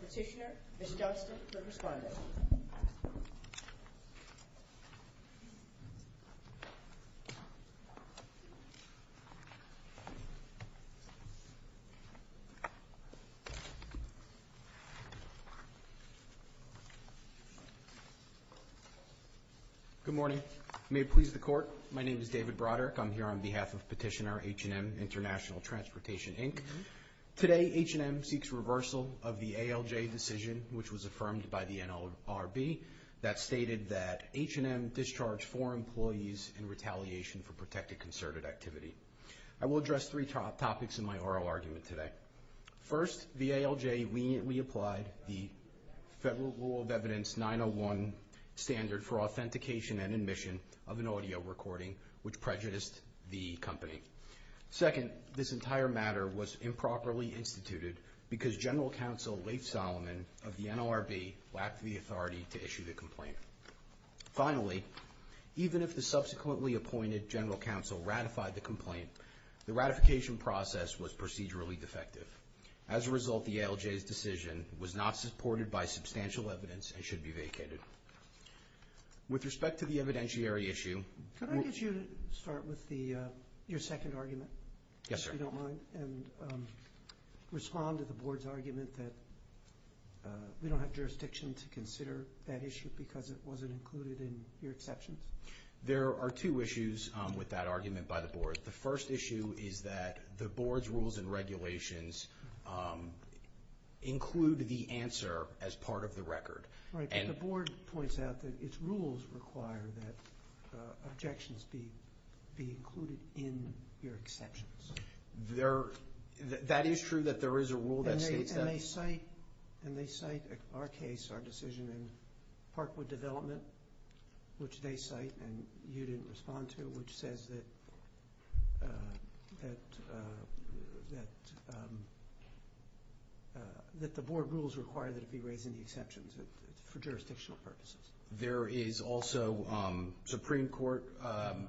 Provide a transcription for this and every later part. Petitioner, Ms. Johnston, for responding. Good morning. May it please the Court, my name is David Broderick. I'm here on behalf of Petitioner, H&M Int'l Transportation, Inc. Today, H&M seeks reversal of the ALJ decision which was affirmed by the NLRB that stated that H&M discharged four employees in retaliation for protected concerted activity. I will address three topics in my oral argument today. First, the ALJ leniently applied the Federal Rule of Evidence 901 standard for authentication and admission of an audio recording which prejudiced the company. Second, this entire matter was improperly instituted because General Counsel Leif Solomon of the NLRB lacked the authority to issue the complaint. Finally, even if the subsequently appointed General Counsel ratified the complaint, the ratification process was procedurally defective. As a result, the ALJ's decision was not supported by substantial evidence and should be vacated. With respect to the evidentiary issue... Could I get you to start with your second argument? Yes, sir. If you don't mind, and respond to the Board's argument that we don't have jurisdiction to consider that issue because it wasn't included in your exception. There are two issues with that argument by the Board. The first issue is that the Board's rules and regulations include the answer as part of the record. Right, but the Board points out that its rules require that objections be included in your exceptions. That is true, that there is a rule that states that. And they cite our case, our decision in Parkwood Development, which they cite and you didn't respond to, which says that the Board rules require that it be raised in the exceptions for jurisdictional purposes. There is also Supreme Court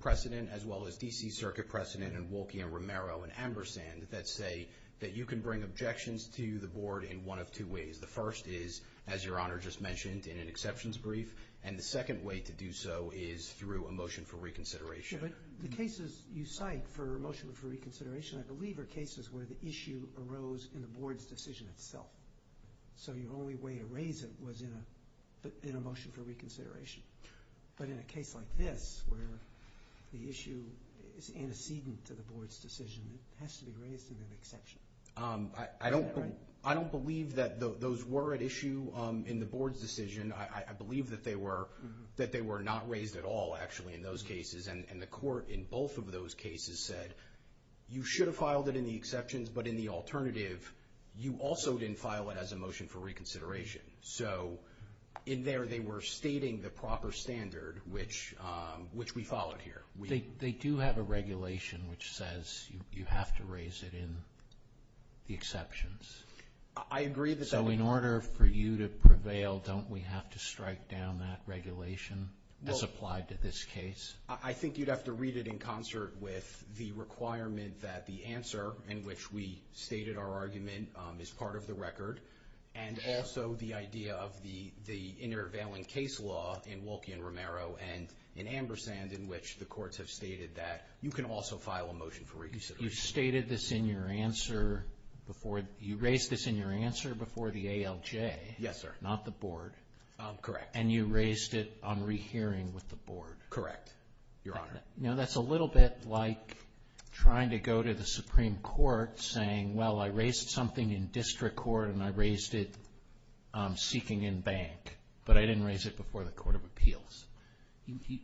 precedent as well as D.C. Circuit precedent and Wolke and Romero and Ambersand that say that you can bring objections to the Board in one of two ways. The first is, as Your Honor just said, is through a motion for reconsideration. The cases you cite for a motion for reconsideration, I believe, are cases where the issue arose in the Board's decision itself. So your only way to raise it was in a motion for reconsideration. But in a case like this, where the issue is antecedent to the Board's decision, it has to be raised in an exception. I don't believe that those were at issue in the Board's decision. I believe that they were not raised at all, actually, in those cases. And the Court in both of those cases said, you should have filed it in the exceptions, but in the alternative, you also didn't file it as a motion for reconsideration. So in there, they were stating the proper standard, which we followed here. They do have a regulation which says you have to raise it in the exceptions. I agree that that... So in order for you to prevail, don't we have to strike down that regulation as applied to this case? I think you'd have to read it in concert with the requirement that the answer in which we stated our argument is part of the record, and also the idea of the intervailing case law in Wolke and Romero and in Ambersand, in which the courts have stated that you can also file a motion for reconsideration. You stated this in your answer before... You raised this in your answer before the ALJ? Yes, sir. Not the Board? Correct. And you raised it on rehearing with the Board? Correct, Your Honor. Now, that's a little bit like trying to go to the Supreme Court saying, well, I raised something in district court and I raised it seeking in bank, but I didn't raise it before the Court of Appeals. It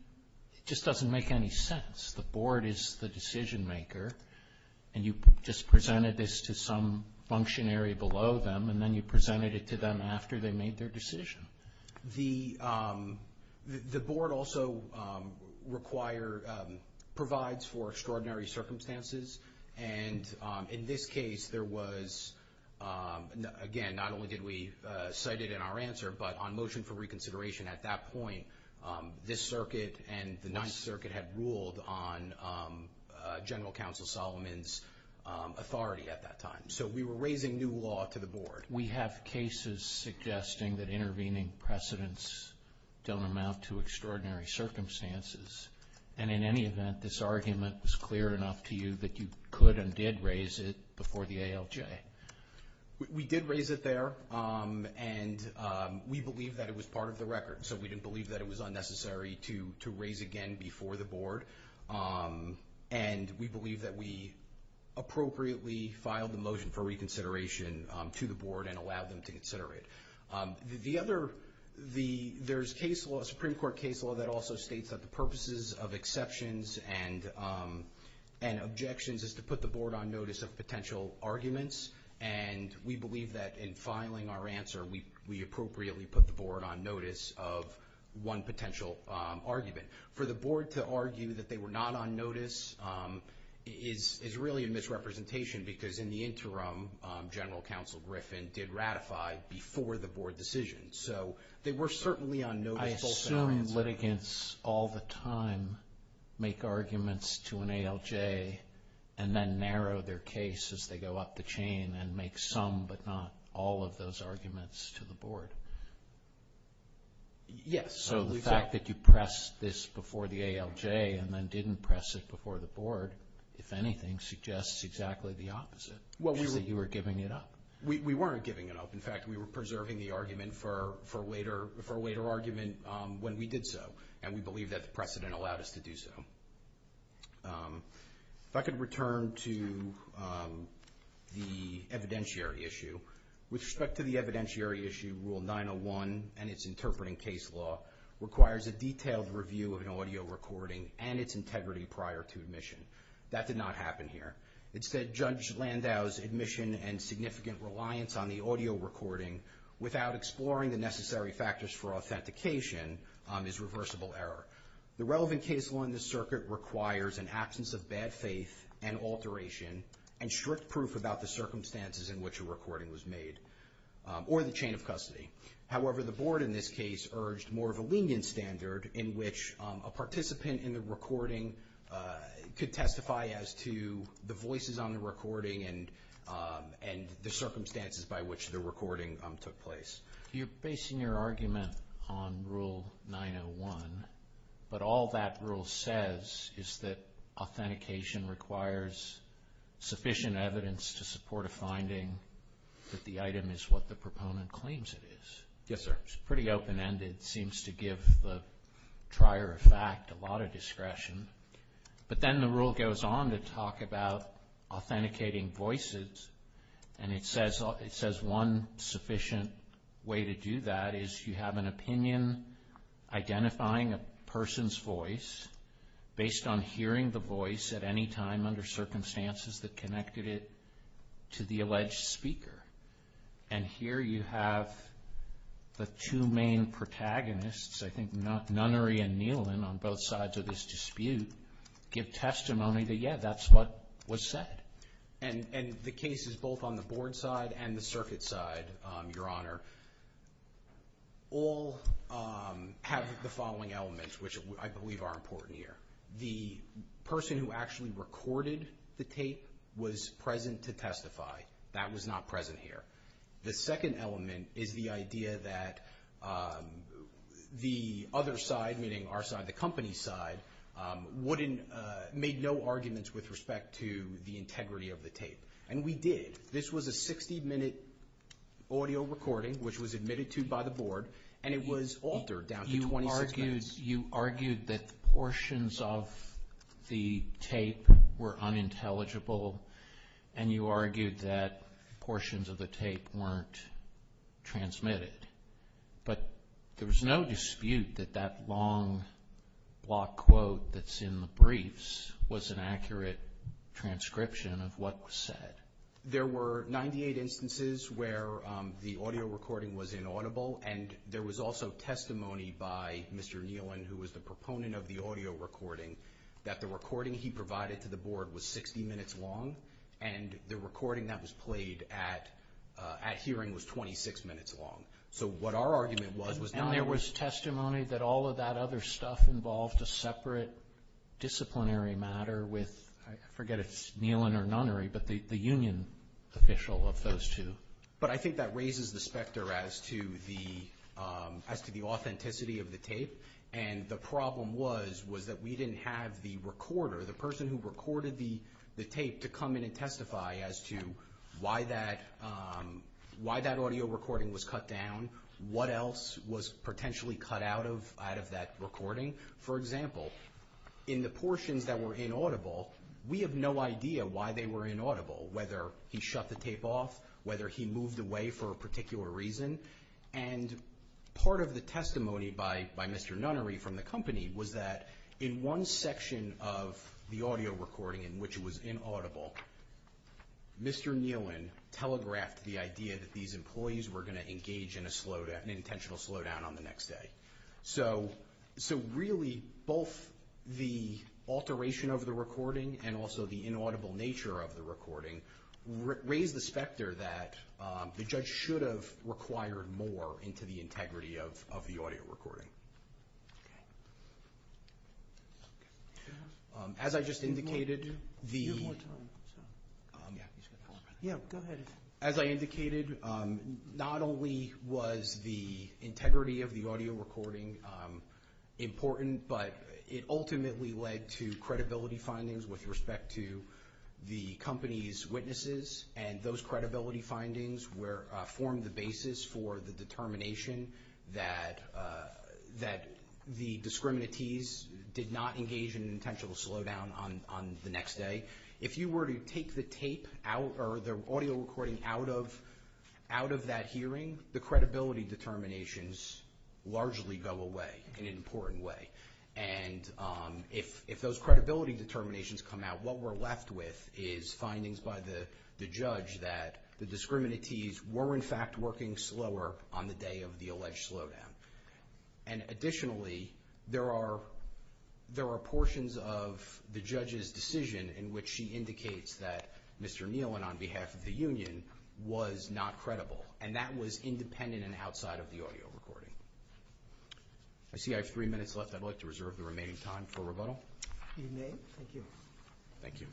just doesn't make any sense. The Board is the decision maker, and you just presented this to some functionary below them, and then you presented it to them after they made their decision. The Board also provides for extraordinary circumstances, and in this case, there was... At that point, this circuit and the Ninth Circuit had ruled on General Counsel Solomon's authority at that time, so we were raising new law to the Board. We have cases suggesting that intervening precedents don't amount to extraordinary circumstances, and in any event, this argument was clear enough to you that you could and did raise it before the ALJ? We did raise it there, and we believe that it was part of the record, so we didn't believe that it was unnecessary to raise again before the Board, and we believe that we appropriately filed the motion for reconsideration to the Board and allowed them to consider it. The other... There's case law, Supreme Court case law, that also states that the purposes of exceptions and objections is to put the Board on notice of potential arguments, and we believe that in filing our answer, we appropriately put the Board on notice of one potential argument. For the Board to argue that they were not on notice is really a misrepresentation, because in the interim, General Counsel Griffin did ratify before the Board decision, so they were certainly on notice both in our answer. Do litigants all the time make arguments to an ALJ and then narrow their case as they go up the chain and make some but not all of those arguments to the Board? Yes. So the fact that you pressed this before the ALJ and then didn't press it before the Board, if anything, suggests exactly the opposite, is that you were giving it up. We weren't giving it up. In fact, we were preserving the argument for a later argument when we did so, and we believe that the precedent allowed us to do so. If I could return to the evidentiary issue. With respect to the evidentiary issue, Rule 901 and its interpreting case law requires a detailed review of an audio recording and its integrity prior to admission. That did not happen here. It said Judge Landau's admission and significant reliance on the audio recording without exploring the necessary factors for authentication is reversible error. The relevant case law in this circuit requires an absence of bad faith and alteration and strict proof about the circumstances in which a recording was made or the chain of custody. However, the Board in this case urged more of a lenient standard in which a participant in the recording could testify as to the voices on the recording and the circumstances by which the recording took place. You're basing your argument on Rule 901, but all that rule says is that authentication requires sufficient evidence to support a finding that the item is what the proponent claims it is. Yes, sir. It's pretty open-ended. It seems to give the trier of fact a lot of discretion. But then the rule goes on to talk about authenticating voices, and it says one sufficient way to do that is you have an opinion identifying a person's voice based on hearing the voice at any time under circumstances that connected it to the alleged speaker. And here you have the two main protagonists, I think Nunnery and Neelan, on both sides of this dispute give testimony that, yeah, that's what was said. And the cases both on the Board side and the circuit side, Your Honor, all have the following elements which I believe are important here. The person who actually recorded the tape was present to testify. That was not present here. The second element is the idea that the other side, meaning our side, the company's side, wouldn't, made no arguments with respect to the integrity of the tape. And we did. This was a 60-minute audio recording, which was admitted to by the Board, and it was altered down to 26 minutes. You argued that portions of the tape were unintelligible, and you argued that portions of the tape weren't transmitted. But there was no dispute that that long block quote that's in the briefs was an accurate transcription of what was said. There were 98 instances where the audio recording was inaudible, and there was also testimony by Mr. Nealon, who was the proponent of the audio recording, that the recording he provided to the Board was 60 minutes long, and the recording that was played at hearing was 26 minutes long. So what our argument was, was not... And there was testimony that all of that other stuff involved a separate disciplinary matter with, I forget if it's Nealon or Nunnery, but the union official of those two. But I think that raises the specter as to the authenticity of the tape. And the problem was, was that we didn't have the recorder, the person who recorded the tape to come in and testify as to why that audio recording was cut down, what else was potentially cut out of that recording. For example, in the portions that were inaudible, we have no idea why they were inaudible, whether he shut the tape off, whether he moved away for a particular reason. And part of the testimony by Mr. Nunnery from the company was that in one section of the audio recording in which it was inaudible, Mr. Nealon telegraphed the idea that these employees were going to engage in an intentional slowdown on the next day. So really, both the alteration of the recording and also the inaudible nature of the recording raise the specter that the judge should have required more into the integrity of the audio recording. As I just indicated, the... A few more times. Yeah. Go ahead. As I indicated, not only was the integrity of the audio recording important, but it ultimately led to credibility findings with respect to the company's witnesses, and those credibility findings formed the basis for the determination that the discriminatees did not engage in an intentional slowdown on the next day. If you were to take the audio recording out of that hearing, the credibility determinations largely go away in an important way. And if those credibility determinations come out, what we're left with is findings by the judge that the discriminatees were, in fact, working slower on the day of the alleged slowdown. And additionally, there are portions of the judge's decision in which she indicates that Mr. Neal, on behalf of the union, was not credible, and that was independent and outside of the audio recording. I see I have three minutes left. I'd like to reserve the remaining time for rebuttal. You may. Thank you. Thank you.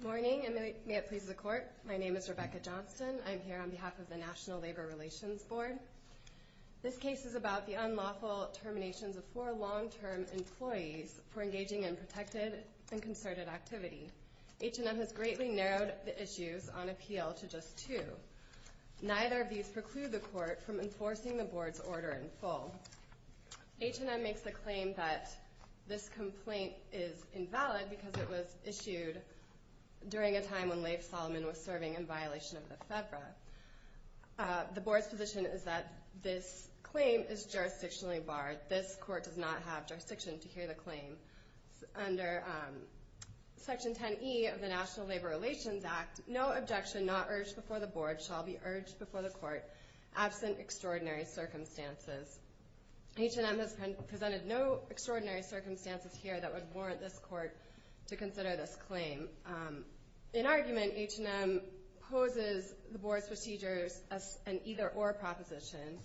Good morning, and may it please the Court. My name is Rebecca Johnston. I'm here on behalf of the National Labor Relations Board. This case is about the unlawful terminations of four long-term employees for engaging in protected and concerted activity. H&M has greatly narrowed the issues on appeal to just two. Neither of these preclude the Court from enforcing the Board's order in full. H&M makes the claim that this complaint is invalid because it was issued during a time when Lafe Solomon was serving in violation of the FEDRA. The Board's position is that this claim is jurisdictionally barred. This Court does not have jurisdiction to hear the claim. Under Section 10E of the National Labor Relations Act, no objection not urged before the Board shall be urged before the Court, absent extraordinary circumstances. H&M has presented no extraordinary circumstances here that would warrant this Court to consider this claim. In argument, H&M poses the Board's procedures as an either-or proposition,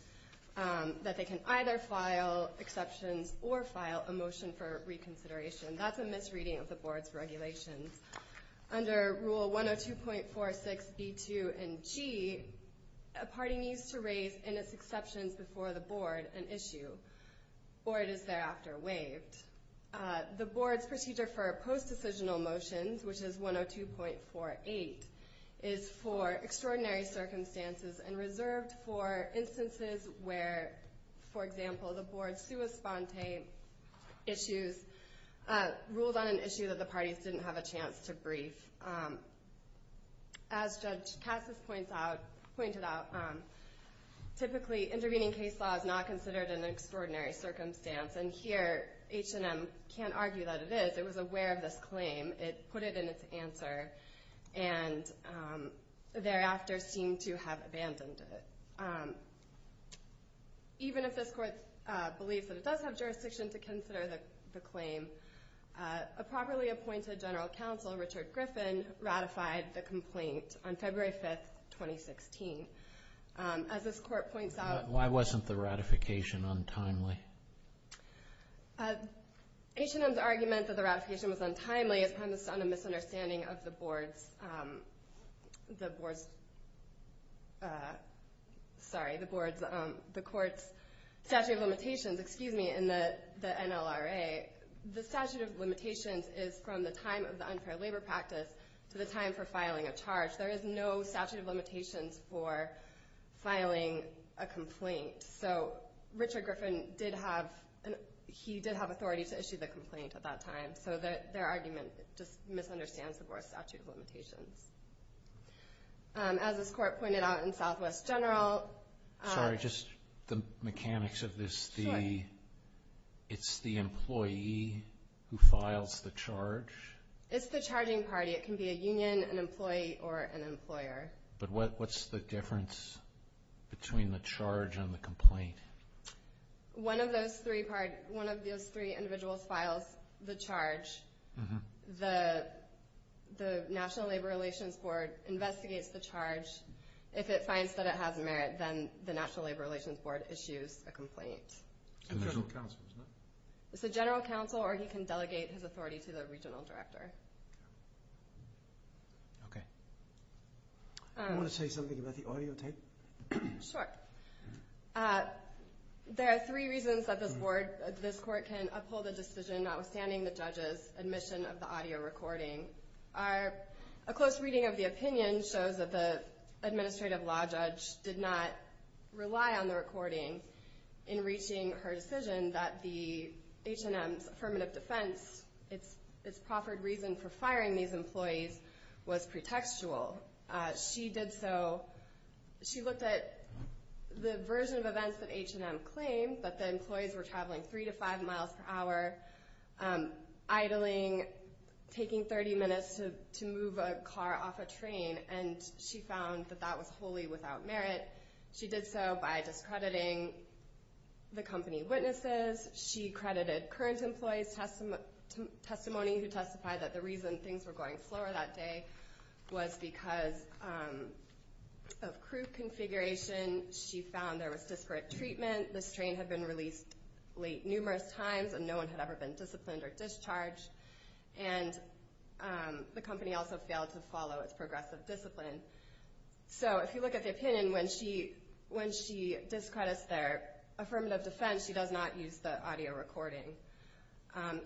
that they can either file exceptions or file a motion for reconsideration. That's a misreading of the Board's regulations. Under Rule 102.46b2 and G, a party needs to raise, in its exceptions before the Board, an issue, or it is thereafter waived. The Board's procedure for post-decisional motions, which is 102.48, is for extraordinary circumstances and reserved for instances where, for example, the Board's sua sponte issues ruled on an issue that the parties didn't have a chance to brief. As Judge Cassis pointed out, typically intervening case law is not considered an extraordinary circumstance, and here H&M can't argue that it is. It was aware of this claim. It put it in its answer. And thereafter seemed to have abandoned it. Even if this Court believes that it does have jurisdiction to consider the claim, a properly appointed General Counsel, Richard Griffin, ratified the complaint on February 5, 2016. As this Court points out... Why wasn't the ratification untimely? H&M's argument that the ratification was untimely is premised on a misunderstanding of the Court's statute of limitations in the NLRA. The statute of limitations is from the time of the unfair labor practice to the time for filing a charge. There is no statute of limitations for filing a complaint. So Richard Griffin did have authority to issue the complaint at that time. So their argument just misunderstands the Court's statute of limitations. As this Court pointed out in Southwest General... Sorry, just the mechanics of this. It's the employee who files the charge? It's the charging party. It can be a union, an employee, or an employer. But what's the difference between the charge and the complaint? One of those three individuals files the charge. The NLRA investigates the charge. If it finds that it has merit, then the NLRA issues a complaint. It's a General Counsel, isn't it? It's a General Counsel, or he can delegate his authority to the Regional Director. I want to say something about the audio tape. Sure. There are three reasons that this Court can uphold a decision notwithstanding the judge's admission of the audio recording. A close reading of the opinion shows that the administrative law judge did not rely on the recording in reaching her decision that the H&M's affirmative defense, its proffered reason for firing these employees, was pretextual. She looked at the version of events that H&M claimed, that the employees were traveling 3 to 5 miles per hour, idling, taking 30 minutes to move a car off a train, and she found that that was wholly without merit. She did so by discrediting the company witnesses. She credited current employees' testimony who testified that the reason things were going slower that day was because of crew configuration. She found there was disparate treatment. This train had been released late numerous times and no one had ever been disciplined or discharged. And the company also failed to follow its progressive discipline. So if you look at the opinion, when she discredits their affirmative defense, she does not use the audio recording.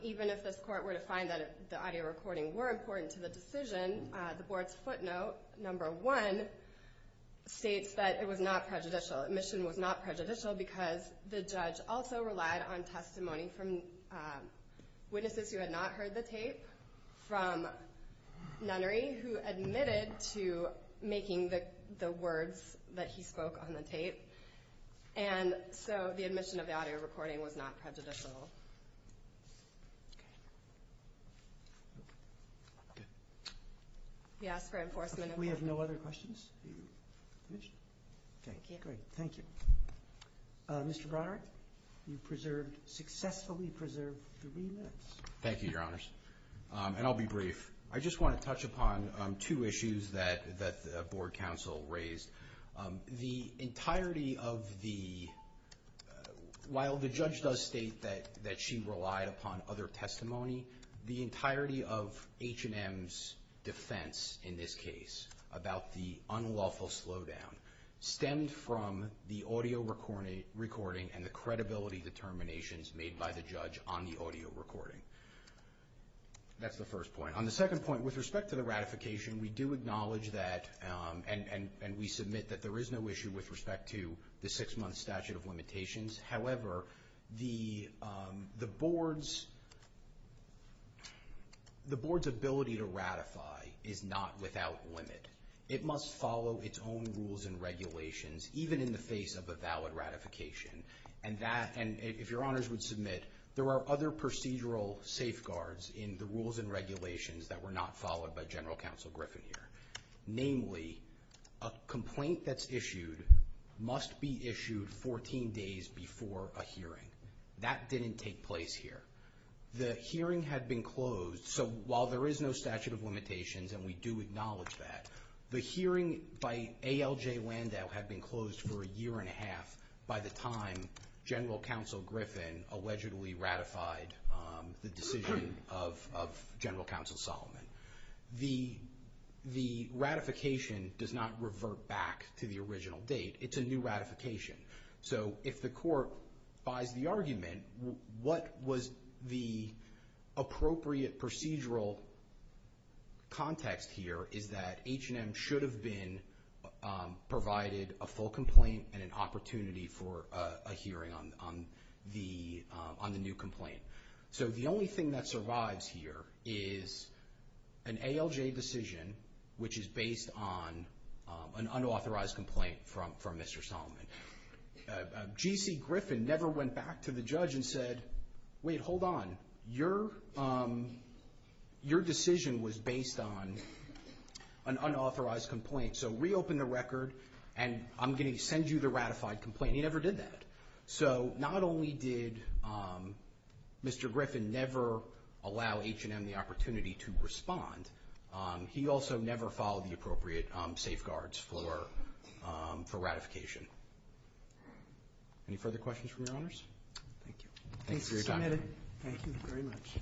Even if this Court were to find that the audio recording were important to the decision, the Board's footnote, number 1, states that it was not prejudicial. Admission was not prejudicial because the judge also relied on testimony from witnesses who had not heard the tape, from nunnery who admitted to making the words that he spoke on the tape. And so the admission of the audio recording was not prejudicial. We ask for enforcement of that. We have no other questions? Thank you. Great, thank you. Mr. Broderick, you preserved, successfully preserved the remits. Thank you, Your Honors. And I'll be brief. I just want to touch upon two issues that the Board counsel raised. The entirety of the, while the judge does state that she relied upon other testimony, the entirety of H&M's defense in this case about the unlawful slowdown stemmed from the audio recording and the credibility determinations made by the judge on the audio recording. That's the first point. On the second point, with respect to the ratification, we do acknowledge that and we submit that there is no issue with respect to the six-month statute of limitations. However, the Board's ability to ratify is not without limit. It must follow its own rules and regulations, even in the face of a valid ratification. And that, and if Your Honors would submit, there are other procedural safeguards in the rules and regulations that were not followed by General Counsel Griffin here. Namely, a complaint that's issued must be issued 14 days before a hearing. That didn't take place here. The hearing had been closed. So while there is no statute of limitations, and we do acknowledge that, the hearing by ALJ Landau had been closed for a year and a half by the time General Counsel Griffin allegedly ratified the decision of General Counsel Solomon. The ratification does not revert back to the original date. It's a new ratification. So if the court buys the argument, what was the appropriate procedural context here is that H&M should have been provided a full complaint and an opportunity for a hearing on the new complaint. So the only thing that survives here is an ALJ decision which is based on an unauthorized complaint from Mr. Solomon. G.C. Griffin never went back to the judge and said, wait, hold on, your decision was based on an unauthorized complaint, so reopen the record and I'm going to send you the ratified complaint. He never did that. So not only did Mr. Griffin never allow H&M the opportunity to respond, he also never followed the appropriate safeguards for ratification. Any further questions from your honors? Thank you. Thanks for your time. Thanks for submitting. Thank you very much.